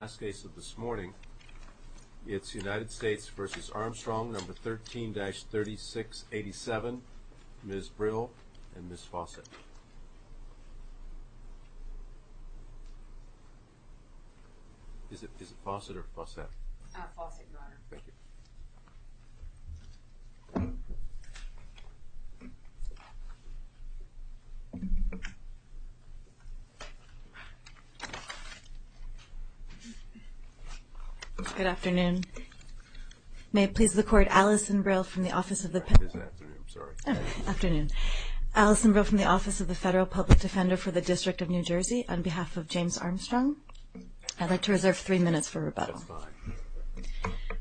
Last case of this morning, it's United States v. Armstrong, No. 13-3687, Ms. Brill and Ms. Fawcett. Is it Fawcett or Fawcett? Fawcett, Your Honor. Thank you. Good afternoon. May it please the Court, Alison Brill from the Office of the Federal Public Defender for the District of New Jersey, on behalf of James Armstrong. I'd like to reserve three minutes for rebuttal. That's fine.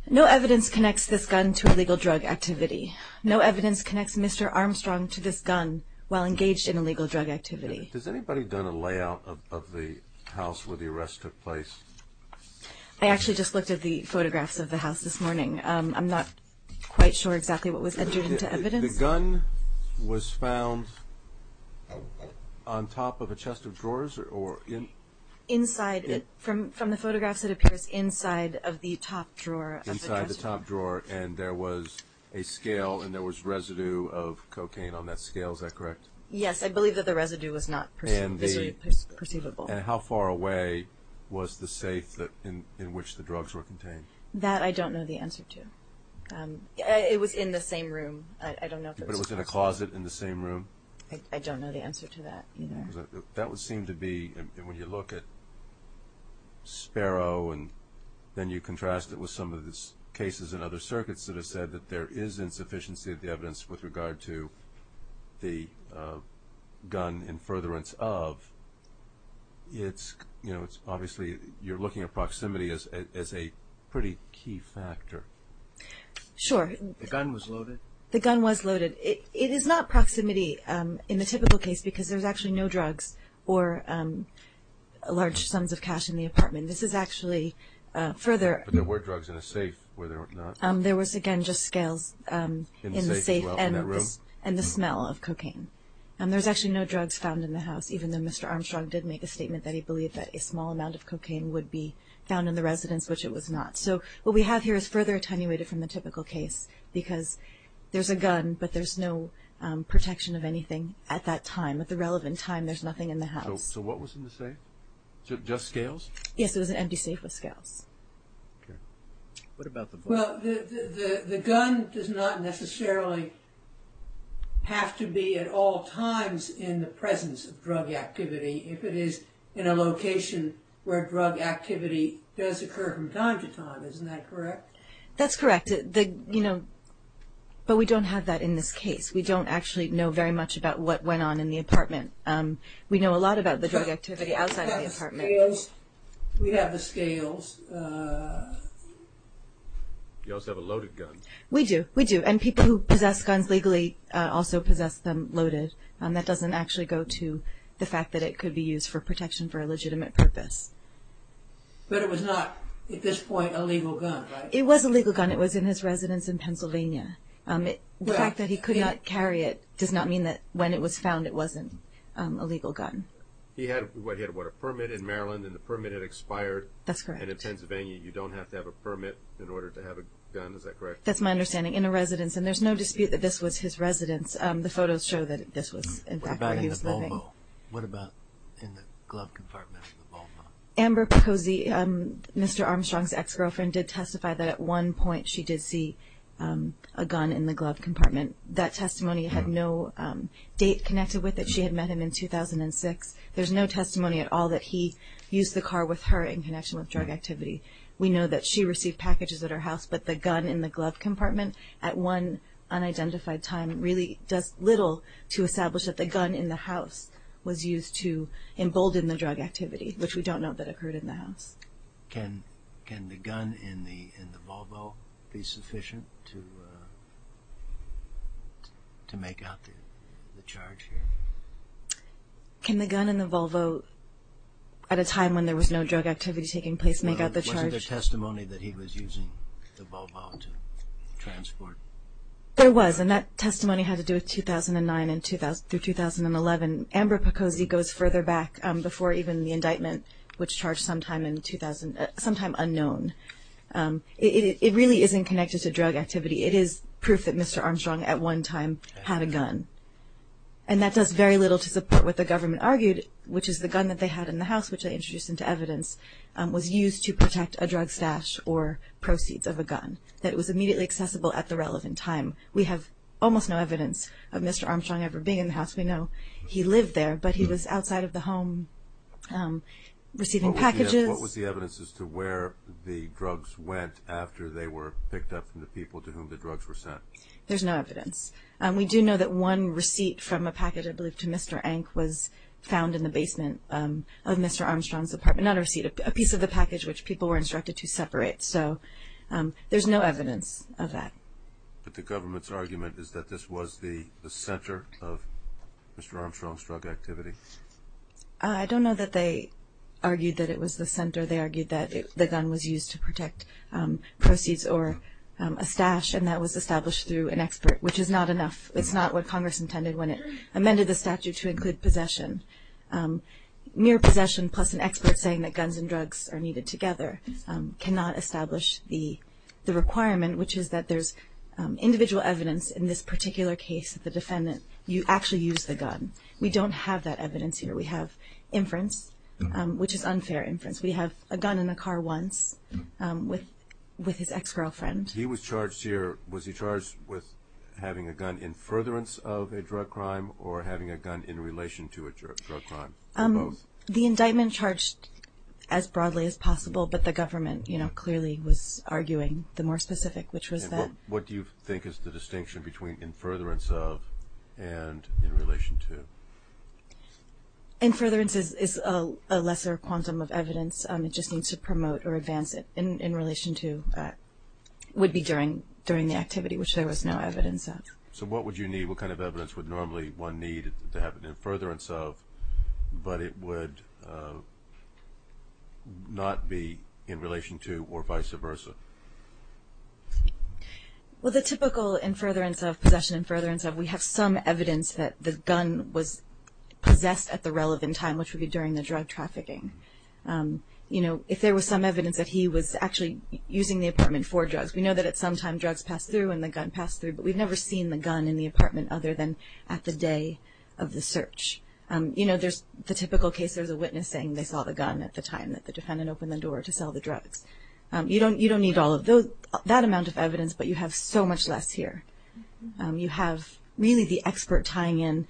No evidence connects this gun to illegal drug activity. No evidence connects Mr. Armstrong to this gun while engaged in illegal drug activity. Has anybody done a layout of the house where the arrest took place? I actually just looked at the photographs of the house this morning. I'm not quite sure exactly what was entered into evidence. The gun was found on top of a chest of drawers? From the photographs, it appears inside of the top drawer. Inside the top drawer, and there was a scale and there was residue of cocaine on that scale. Is that correct? Yes, I believe that the residue was not visibly perceivable. And how far away was the safe in which the drugs were contained? That I don't know the answer to. It was in the same room. I don't know if it was perceived. But it was in a closet in the same room? I don't know the answer to that either. That would seem to be, when you look at Sparrow and then you contrast it with some of the cases in other circuits that have said that there is insufficiency of the evidence with regard to the gun in furtherance of, obviously you're looking at proximity as a pretty key factor. Sure. The gun was loaded? The gun was loaded. It is not proximity in the typical case because there's actually no drugs or large sums of cash in the apartment. This is actually further. But there were drugs in a safe, were there not? There was, again, just scales in the safe and the smell of cocaine. And there's actually no drugs found in the house, even though Mr. Armstrong did make a statement that he believed that a small amount of cocaine would be found in the residence, which it was not. So what we have here is further attenuated from the typical case because there's a gun, but there's no protection of anything at that time, at the relevant time. There's nothing in the house. So what was in the safe? Just scales? Yes, it was an empty safe with scales. What about the bullet? Well, the gun does not necessarily have to be at all times in the presence of drug activity if it is in a location where drug activity does occur from time to time. Isn't that correct? That's correct, but we don't have that in this case. We don't actually know very much about what went on in the apartment. We know a lot about the drug activity outside of the apartment. We have the scales. You also have a loaded gun. We do. We do. And people who possess guns legally also possess them loaded. That doesn't actually go to the fact that it could be used for protection for a legitimate purpose. But it was not, at this point, a legal gun, right? It was a legal gun. It was in his residence in Pennsylvania. The fact that he could not carry it does not mean that when it was found it wasn't a legal gun. He had a permit in Maryland, and the permit had expired. That's correct. And in Pennsylvania, you don't have to have a permit in order to have a gun. Is that correct? That's my understanding, in a residence. And there's no dispute that this was his residence. The photos show that this was, in fact, where he was living. What about in the glove compartment in the ballpark? Amber Pacozzi, Mr. Armstrong's ex-girlfriend, did testify that at one point she did see a gun in the glove compartment. That testimony had no date connected with it. There's no testimony at all that he used the car with her in connection with drug activity. We know that she received packages at her house, but the gun in the glove compartment at one unidentified time really does little to establish that the gun in the house was used to embolden the drug activity, which we don't know that occurred in the house. Can the gun in the Volvo be sufficient to make out the charge here? Can the gun in the Volvo at a time when there was no drug activity taking place make out the charge? No, wasn't there testimony that he was using the Volvo to transport? There was, and that testimony had to do with 2009 through 2011. Amber Pacozzi goes further back before even the indictment, which charged sometime unknown. It really isn't connected to drug activity. It is proof that Mr. Armstrong at one time had a gun. And that does very little to support what the government argued, which is the gun that they had in the house, which I introduced into evidence, was used to protect a drug stash or proceeds of a gun, that it was immediately accessible at the relevant time. We have almost no evidence of Mr. Armstrong ever being in the house. We know he lived there, but he was outside of the home receiving packages. What was the evidence as to where the drugs went after they were picked up from the people to whom the drugs were sent? There's no evidence. We do know that one receipt from a package, I believe, to Mr. Ank, was found in the basement of Mr. Armstrong's apartment. Not a receipt, a piece of the package which people were instructed to separate. So there's no evidence of that. But the government's argument is that this was the center of Mr. Armstrong's drug activity? I don't know that they argued that it was the center. through an expert, which is not enough. It's not what Congress intended when it amended the statute to include possession. Mere possession plus an expert saying that guns and drugs are needed together cannot establish the requirement, which is that there's individual evidence in this particular case that the defendant actually used the gun. We don't have that evidence here. We have inference, which is unfair inference. We have a gun in the car once with his ex-girlfriend. He was charged here. Was he charged with having a gun in furtherance of a drug crime or having a gun in relation to a drug crime? Both. The indictment charged as broadly as possible, but the government clearly was arguing the more specific, which was that. What do you think is the distinction between in furtherance of and in relation to? In furtherance is a lesser quantum of evidence. It just needs to promote or advance it. In relation to would be during the activity, which there was no evidence of. So what would you need? What kind of evidence would normally one need to have an in furtherance of, but it would not be in relation to or vice versa? Well, the typical in furtherance of, possession in furtherance of, we have some evidence that the gun was possessed at the relevant time, which would be during the drug trafficking. You know, if there was some evidence that he was actually using the apartment for drugs, we know that at some time drugs passed through and the gun passed through, but we've never seen the gun in the apartment other than at the day of the search. You know, there's the typical case. There's a witness saying they saw the gun at the time that the defendant opened the door to sell the drugs. You don't need all of that amount of evidence, but you have so much less here. You have really the expert tying in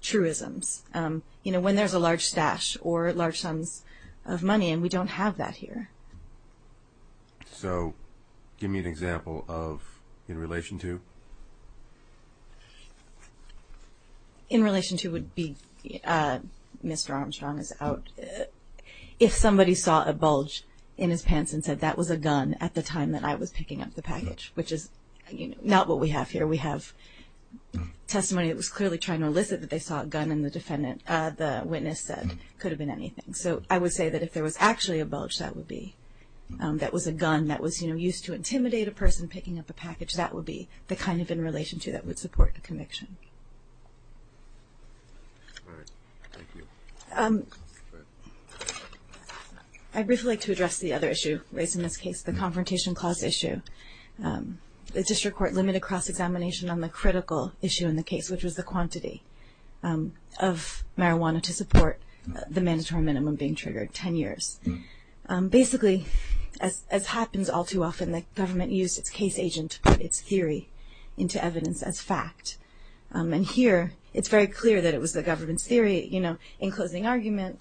truisms. You know, when there's a large stash or large sums of money, and we don't have that here. So give me an example of in relation to. In relation to would be, Mr. Armstrong is out. If somebody saw a bulge in his pants and said that was a gun at the time that I was picking up the package, which is not what we have here. We have testimony that was clearly trying to elicit that they saw a gun, and the witness said it could have been anything. So I would say that if there was actually a bulge that would be, that was a gun that was, you know, used to intimidate a person picking up a package, that would be the kind of in relation to that would support the conviction. All right. Thank you. I'd briefly like to address the other issue raised in this case, the confrontation clause issue. The district court limited cross-examination on the critical issue in the case, which was the quantity of marijuana to support the mandatory minimum being triggered, 10 years. Basically, as happens all too often, the government used its case agent, its theory, into evidence as fact. And here it's very clear that it was the government's theory, you know, closing argument,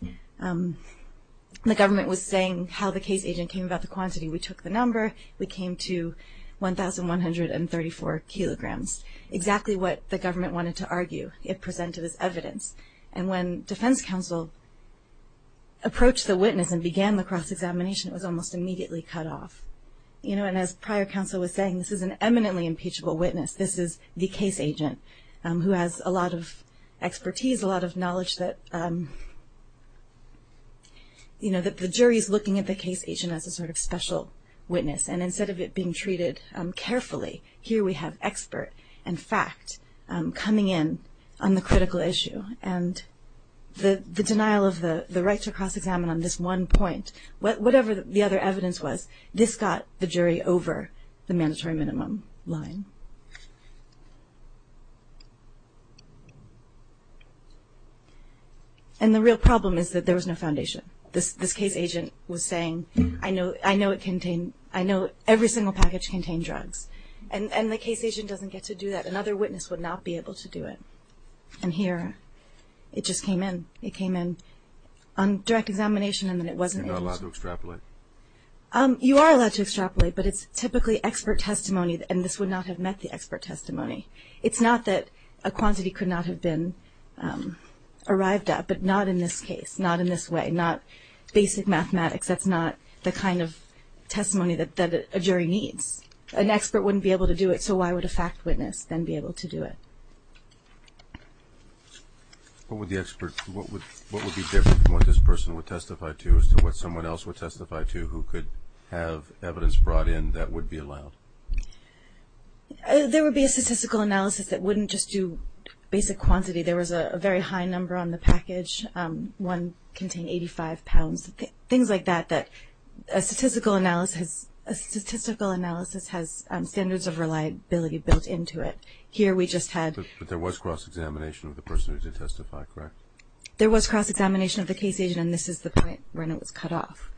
the government was saying how the case agent came about the quantity. We took the number. We came to 1,134 kilograms, exactly what the government wanted to argue. It presented as evidence. And when defense counsel approached the witness and began the cross-examination, it was almost immediately cut off. You know, and as prior counsel was saying, this is an eminently impeachable witness. This is the case agent who has a lot of expertise, a lot of knowledge that, you know, that the jury is looking at the case agent as a sort of special witness. And instead of it being treated carefully, here we have expert and fact coming in on the critical issue. And the denial of the right to cross-examine on this one point, whatever the other evidence was, this got the jury over the mandatory minimum line. And the real problem is that there was no foundation. This case agent was saying, I know every single package contained drugs. And the case agent doesn't get to do that. Another witness would not be able to do it. And here it just came in. It came in on direct examination and then it wasn't able to do it. You are allowed to extrapolate, but it's typically expert testimony, and this would not have met the expert testimony. It's not that a quantity could not have been arrived at, but not in this case, not in this way, not basic mathematics. That's not the kind of testimony that a jury needs. An expert wouldn't be able to do it, so why would a fact witness then be able to do it? What would be different from what this person would testify to as to what someone else would testify to who could have evidence brought in that would be allowed? There would be a statistical analysis that wouldn't just do basic quantity. There was a very high number on the package. One contained 85 pounds, things like that, that a statistical analysis has standards of reliability built into it. But there was cross-examination of the person who did testify, correct? There was cross-examination of the case agent, and this is the point when it was cut off.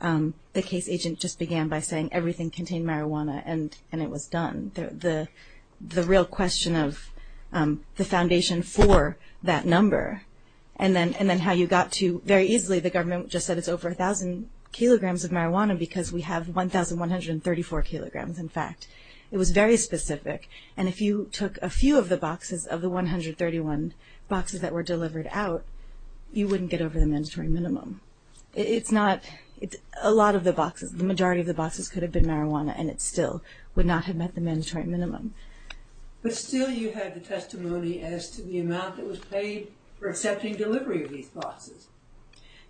The case agent just began by saying everything contained marijuana and it was done. The real question of the foundation for that number and then how you got to, very easily the government just said it's over 1,000 kilograms of marijuana because we have 1,134 kilograms, in fact. It was very specific, and if you took a few of the boxes of the 131 boxes that were delivered out, you wouldn't get over the mandatory minimum. It's not, it's a lot of the boxes, the majority of the boxes could have been marijuana and it still would not have met the mandatory minimum. But still you had the testimony as to the amount that was paid for accepting delivery of these boxes.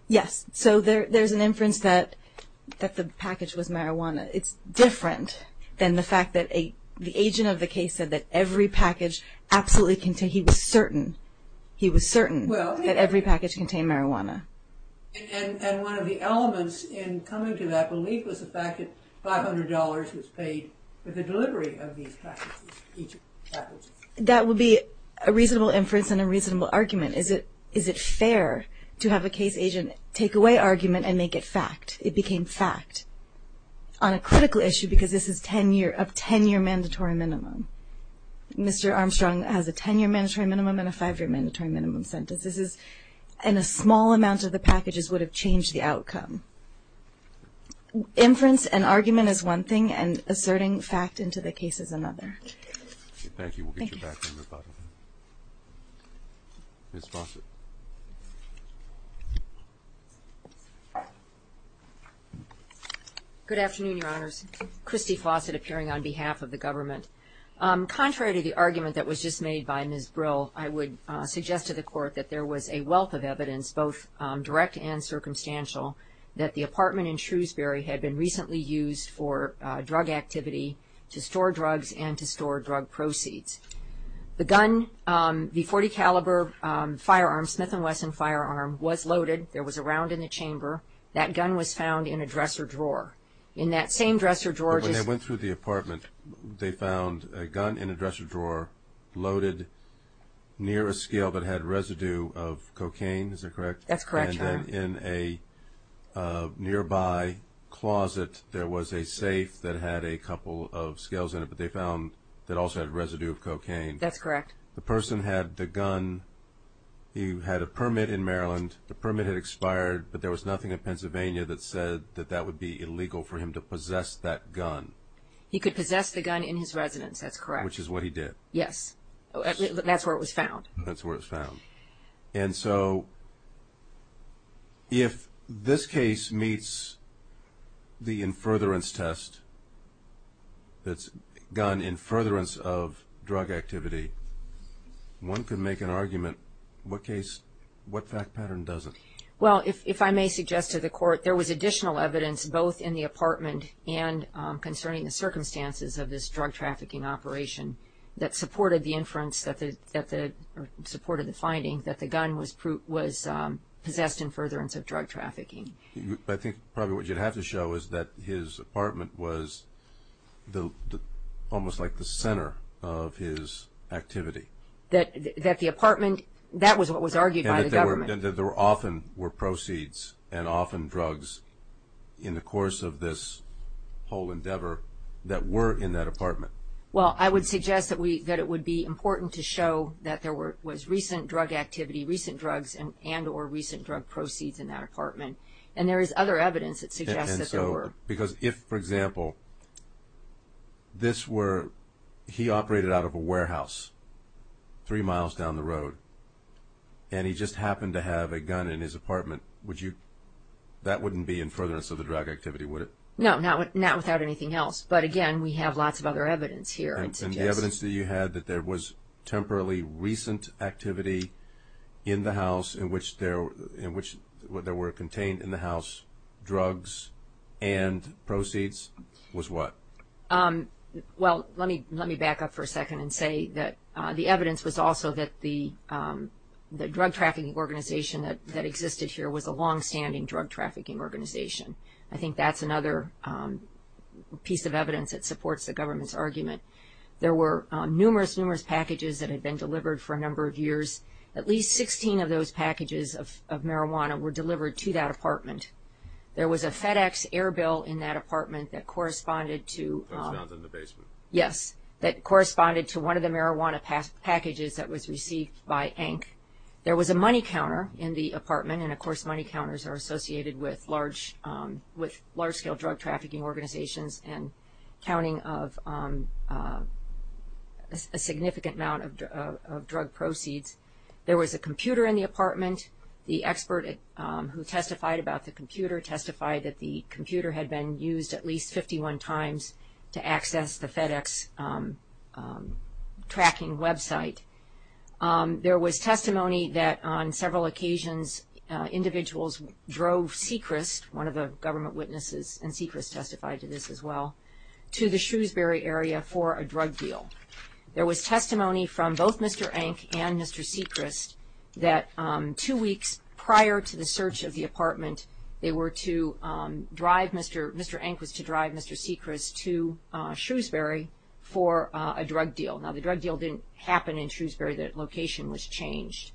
Yes, so there's an inference that the package was marijuana. It's different than the fact that the agent of the case said that every package absolutely contained, he was certain, he was certain that every package contained marijuana. And one of the elements in coming to that belief was the fact that $500 was paid for the delivery of these packages. That would be a reasonable inference and a reasonable argument. Is it fair to have a case agent take away argument and make it fact? It became fact on a critical issue because this is 10-year, a 10-year mandatory minimum. Mr. Armstrong has a 10-year mandatory minimum and a 5-year mandatory minimum sentence. This is, and a small amount of the packages would have changed the outcome. Inference and argument is one thing and asserting fact into the case is another. Thank you. We'll get you back to me about it. Ms. Fawcett. Good afternoon, Your Honors. Christy Fawcett appearing on behalf of the government. Contrary to the argument that was just made by Ms. Brill, I would suggest to the Court that there was a wealth of evidence, both direct and circumstantial, that the apartment in Shrewsbury had been recently used for drug activity to store drugs and to store drug proceeds. The gun, the .40 caliber firearm, Smith & Wesson firearm, was loaded. There was a round in the chamber. That gun was found in a dresser drawer. In that same dresser drawer just – But when they went through the apartment, they found a gun in a dresser drawer loaded near a scale that had residue of cocaine, is that correct? That's correct, Your Honor. And then in a nearby closet there was a safe that had a couple of scales in it, but they found that it also had residue of cocaine. That's correct. The person had the gun. He had a permit in Maryland. The permit had expired, but there was nothing in Pennsylvania that said that that would be illegal for him to possess that gun. He could possess the gun in his residence, that's correct. Which is what he did. Yes. That's where it was found. That's where it was found. And so if this case meets the in furtherance test, that's gun in furtherance of drug activity, one could make an argument. What fact pattern doesn't? Well, if I may suggest to the Court, there was additional evidence both in the apartment and concerning the circumstances of this drug trafficking operation that supported the inference or supported the finding that the gun was possessed in furtherance of drug trafficking. I think probably what you'd have to show is that his apartment was almost like the center of his activity. That the apartment, that was what was argued by the government. And that there often were proceeds and often drugs in the course of this whole endeavor that were in that apartment. Well, I would suggest that it would be important to show that there was recent drug activity, recent drugs and or recent drug proceeds in that apartment. And there is other evidence that suggests that there were. And so, because if, for example, this were, he operated out of a warehouse three miles down the road and he just happened to have a gun in his apartment, would you, that wouldn't be in furtherance of the drug activity, would it? No, not without anything else. But again, we have lots of other evidence here. And the evidence that you had that there was temporarily recent activity in the house in which there were contained in the house drugs and proceeds was what? Well, let me back up for a second and say that the evidence was also that the drug trafficking organization that existed here was a longstanding drug trafficking organization. I think that's another piece of evidence that supports the government's argument. There were numerous, numerous packages that had been delivered for a number of years. At least 16 of those packages of marijuana were delivered to that apartment. There was a FedEx air bill in that apartment that corresponded to. That was found in the basement. Yes, that corresponded to one of the marijuana packages that was received by Hank. There was a money counter in the apartment and, of course, money counters are associated with large scale drug trafficking organizations and counting of a significant amount of drug proceeds. There was a computer in the apartment. The expert who testified about the computer testified that the computer had been used at least 51 times to access the FedEx tracking website. There was testimony that on several occasions individuals drove Sechrist, one of the government witnesses, and Sechrist testified to this as well, to the Shrewsbury area for a drug deal. There was testimony from both Mr. Hank and Mr. Sechrist that two weeks prior to the search of the apartment, they were to drive Mr. Hank was to drive Mr. Sechrist to Shrewsbury for a drug deal. Now, the drug deal didn't happen in Shrewsbury. The location was changed.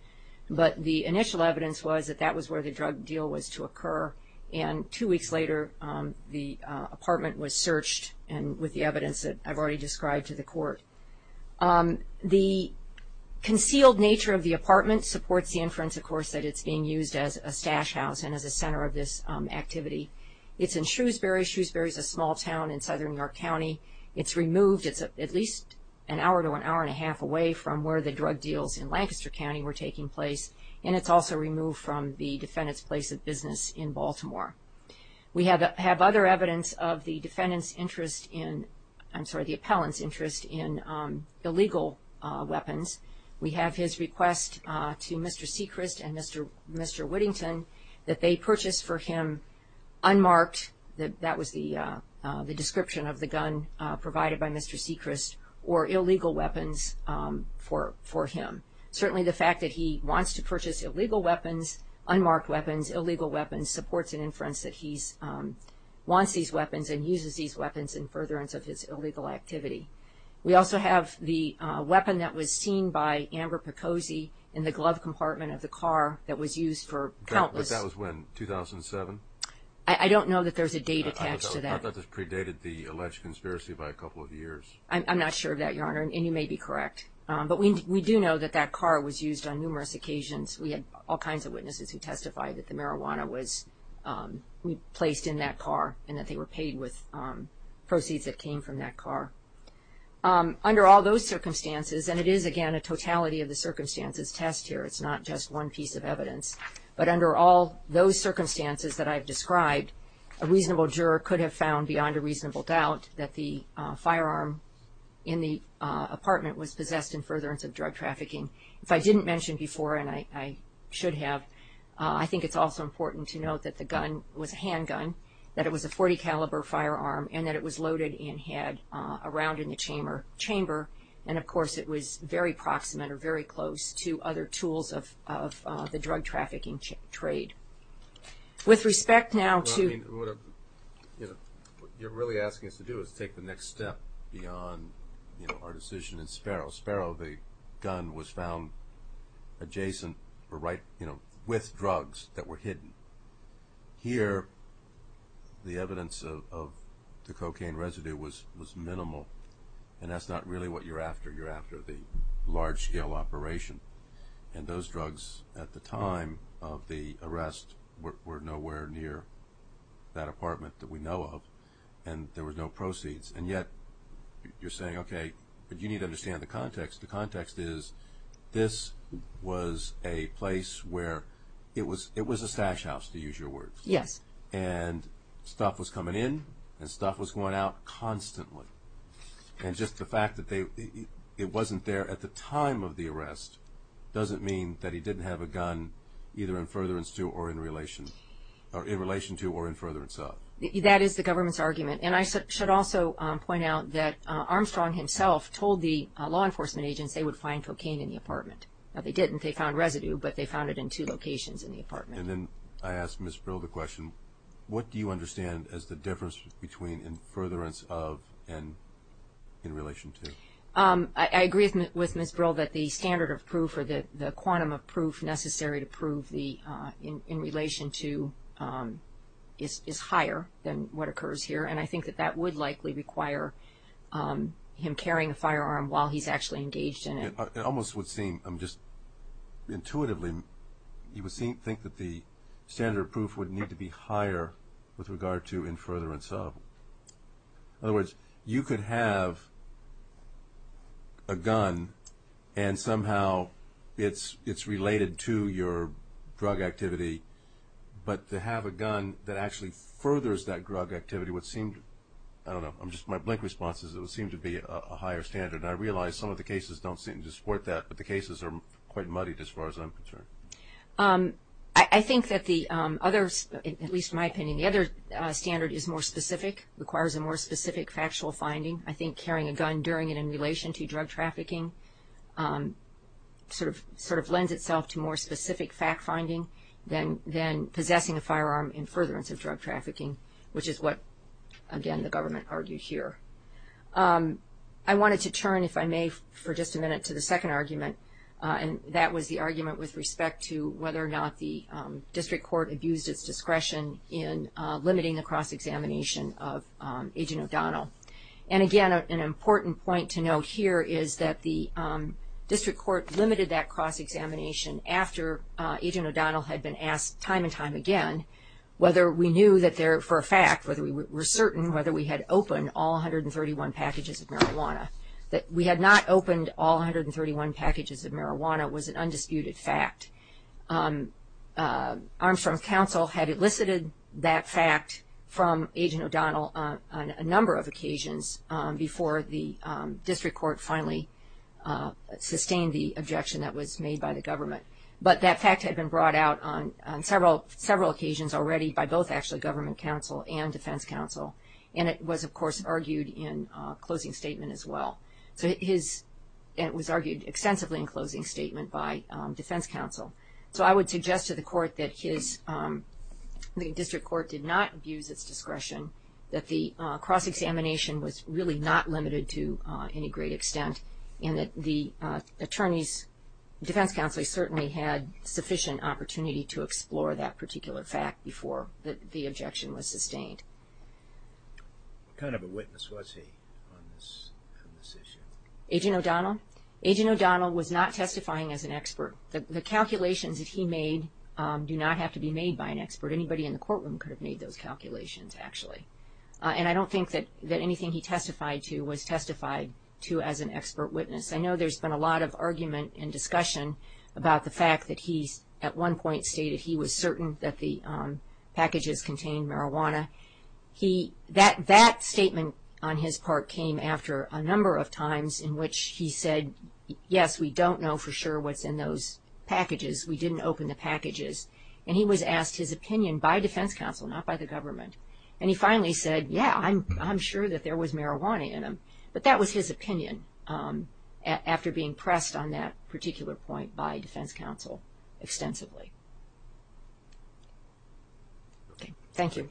But the initial evidence was that that was where the drug deal was to occur, and two weeks later the apartment was searched with the evidence that I've already described to the court. The concealed nature of the apartment supports the inference, of course, that it's being used as a stash house and as a center of this activity. It's in Shrewsbury. Shrewsbury is a small town in southern New York County. It's removed. It's at least an hour to an hour and a half away from where the drug deals in Lancaster County were taking place, and it's also removed from the defendant's place of business in Baltimore. We have other evidence of the defendant's interest in, I'm sorry, the appellant's interest in illegal weapons. We have his request to Mr. Sechrist and Mr. Whittington that they purchase for him unmarked, that was the description of the gun provided by Mr. Sechrist, or illegal weapons for him. Certainly the fact that he wants to purchase illegal weapons, unmarked weapons, illegal weapons supports an inference that he wants these weapons and uses these weapons in furtherance of his illegal activity. We also have the weapon that was seen by Amber Pacozi in the glove compartment of the car that was used for countless. But that was when, 2007? I don't know that there's a date attached to that. I thought that predated the alleged conspiracy by a couple of years. I'm not sure of that, Your Honor, and you may be correct. But we do know that that car was used on numerous occasions. We had all kinds of witnesses who testified that the marijuana was placed in that car and that they were paid with proceeds that came from that car. Under all those circumstances, and it is, again, a totality of the circumstances test here, it's not just one piece of evidence. But under all those circumstances that I've described, a reasonable juror could have found beyond a reasonable doubt that the firearm in the apartment was possessed in furtherance of drug trafficking. If I didn't mention before, and I should have, I think it's also important to note that the gun was a handgun, that it was a .40 caliber firearm, and that it was loaded and had a round in the chamber. And, of course, it was very proximate or very close to other tools of the drug trafficking trade. With respect now to... Well, I mean, what you're really asking us to do is take the next step beyond our decision in Sparrow. Sparrow, the gun was found adjacent or right, you know, with drugs that were hidden. Here, the evidence of the cocaine residue was minimal, and that's not really what you're after. You're after the large-scale operation. And those drugs at the time of the arrest were nowhere near that apartment that we know of, and there were no proceeds. And yet you're saying, okay, but you need to understand the context. The context is this was a place where it was a stash house, to use your words. Yes. And stuff was coming in and stuff was going out constantly. And just the fact that it wasn't there at the time of the arrest doesn't mean that he didn't have a gun either in furtherance to or in relation to or in furtherance of. That is the government's argument. And I should also point out that Armstrong himself told the law enforcement agents they would find cocaine in the apartment. Now, they didn't. They found residue, but they found it in two locations in the apartment. And then I asked Ms. Brill the question, what do you understand as the difference between in furtherance of and in relation to? I agree with Ms. Brill that the standard of proof or the quantum of proof necessary to prove the in relation to is higher than what occurs here, and I think that that would likely require him carrying a firearm while he's actually engaged in it. It almost would seem, just intuitively, you would think that the standard of proof would need to be higher with regard to in furtherance of. In other words, you could have a gun and somehow it's related to your drug activity, but to have a gun that actually furthers that drug activity would seem, I don't know, my blank response is it would seem to be a higher standard. I realize some of the cases don't seem to support that, but the cases are quite muddied as far as I'm concerned. I think that the other, at least in my opinion, the other standard is more specific, requires a more specific factual finding. I think carrying a gun during and in relation to drug trafficking sort of lends itself to more specific fact finding than possessing a firearm in furtherance of drug trafficking, which is what, again, the government argued here. I wanted to turn, if I may, for just a minute to the second argument, and that was the argument with respect to whether or not the district court abused its discretion in limiting the cross-examination of Agent O'Donnell. And again, an important point to note here is that the district court limited that cross-examination after Agent O'Donnell had been asked time and time again whether we knew that there, for a fact, whether we were certain whether we had opened all 131 packages of marijuana. That we had not opened all 131 packages of marijuana was an undisputed fact. Armstrong's counsel had elicited that fact from Agent O'Donnell on a number of occasions before the district court finally sustained the objection that was made by the government. But that fact had been brought out on several occasions already by both actually government counsel and defense counsel, and it was, of course, argued in closing statement as well. So it was argued extensively in closing statement by defense counsel. So I would suggest to the court that the district court did not abuse its discretion, that the cross-examination was really not limited to any great extent, and that the attorney's defense counsel certainly had sufficient opportunity to explore that particular fact before the objection was sustained. What kind of a witness was he on this issue? Agent O'Donnell? Agent O'Donnell was not testifying as an expert. The calculations that he made do not have to be made by an expert. Anybody in the courtroom could have made those calculations, actually. And I don't think that anything he testified to was testified to as an expert witness. I know there's been a lot of argument and discussion about the fact that he, at one point, stated he was certain that the packages contained marijuana. That statement on his part came after a number of times in which he said, yes, we don't know for sure what's in those packages. We didn't open the packages. And he was asked his opinion by defense counsel, not by the government. And he finally said, yeah, I'm sure that there was marijuana in them. But that was his opinion after being pressed on that particular point by defense counsel extensively. Thank you.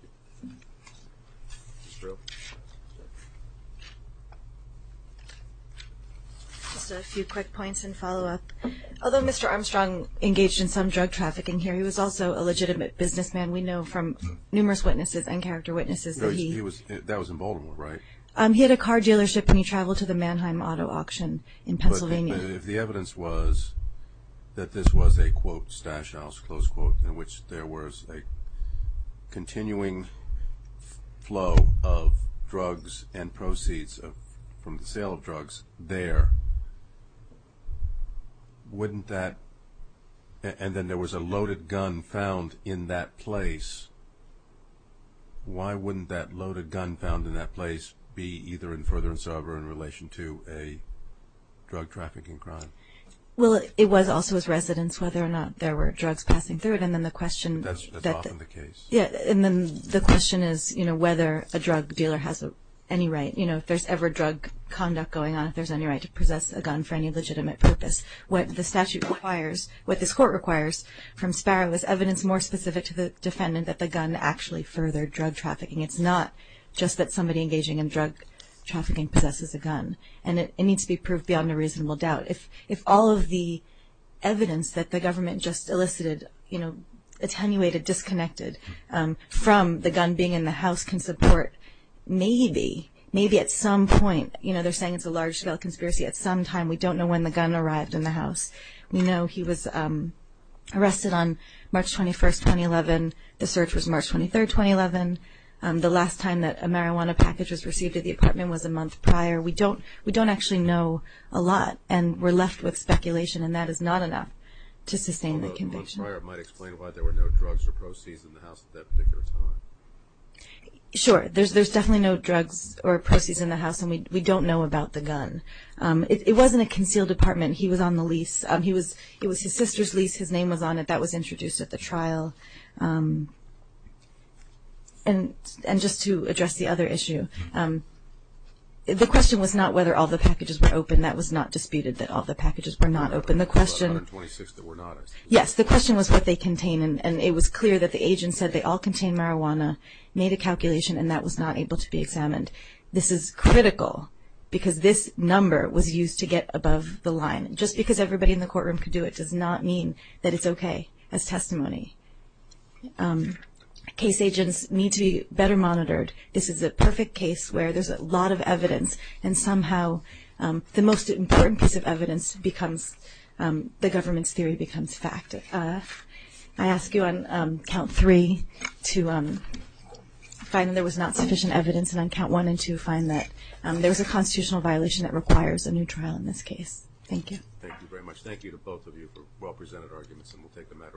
Just a few quick points and follow-up. Although Mr. Armstrong engaged in some drug trafficking here, he was also a legitimate businessman. We know from numerous witnesses and character witnesses that he – That was in Baltimore, right? He had a car dealership and he traveled to the Mannheim Auto Auction in Pennsylvania. But if the evidence was that this was a, quote, stash house, close quote, in which there was a continuing flow of drugs and proceeds from the sale of drugs there, wouldn't that – and then there was a loaded gun found in that place. Why wouldn't that loaded gun found in that place be either in furtherance or in relation to a drug trafficking crime? Well, it was also his residence whether or not there were drugs passing through it. And then the question – That's often the case. Yeah, and then the question is whether a drug dealer has any right – you know, if there's ever drug conduct going on, if there's any right to possess a gun for any legitimate purpose. What the statute requires – what this court requires from Sparrow is evidence more specific to the defendant that the gun actually furthered drug trafficking. It's not just that somebody engaging in drug trafficking possesses a gun. And it needs to be proved beyond a reasonable doubt. If all of the evidence that the government just elicited, you know, attenuated, disconnected from the gun being in the house can support maybe, maybe at some point – you know, they're saying it's a large-scale conspiracy at some time. We don't know when the gun arrived in the house. We know he was arrested on March 21, 2011. The search was March 23, 2011. The last time that a marijuana package was received at the apartment was a month prior. We don't actually know a lot, and we're left with speculation, and that is not enough to sustain the conviction. Can you explain why there were no drugs or proceeds in the house at that particular time? Sure. There's definitely no drugs or proceeds in the house, and we don't know about the gun. It was in a concealed apartment. He was on the lease. It was his sister's lease. His name was on it. That was introduced at the trial. And just to address the other issue, the question was not whether all the packages were open. That was not disputed, that all the packages were not open. Yes, the question was what they contained, and it was clear that the agent said they all contained marijuana, made a calculation, and that was not able to be examined. This is critical because this number was used to get above the line. Just because everybody in the courtroom could do it does not mean that it's okay as testimony. Case agents need to be better monitored. This is a perfect case where there's a lot of evidence, and somehow the most important piece of evidence becomes the government's theory becomes fact. I ask you on count three to find that there was not sufficient evidence, and on count one and two find that there was a constitutional violation that requires a new trial in this case. Thank you. Thank you very much. Thank you to both of you for well-presented arguments, and we'll take the matter up.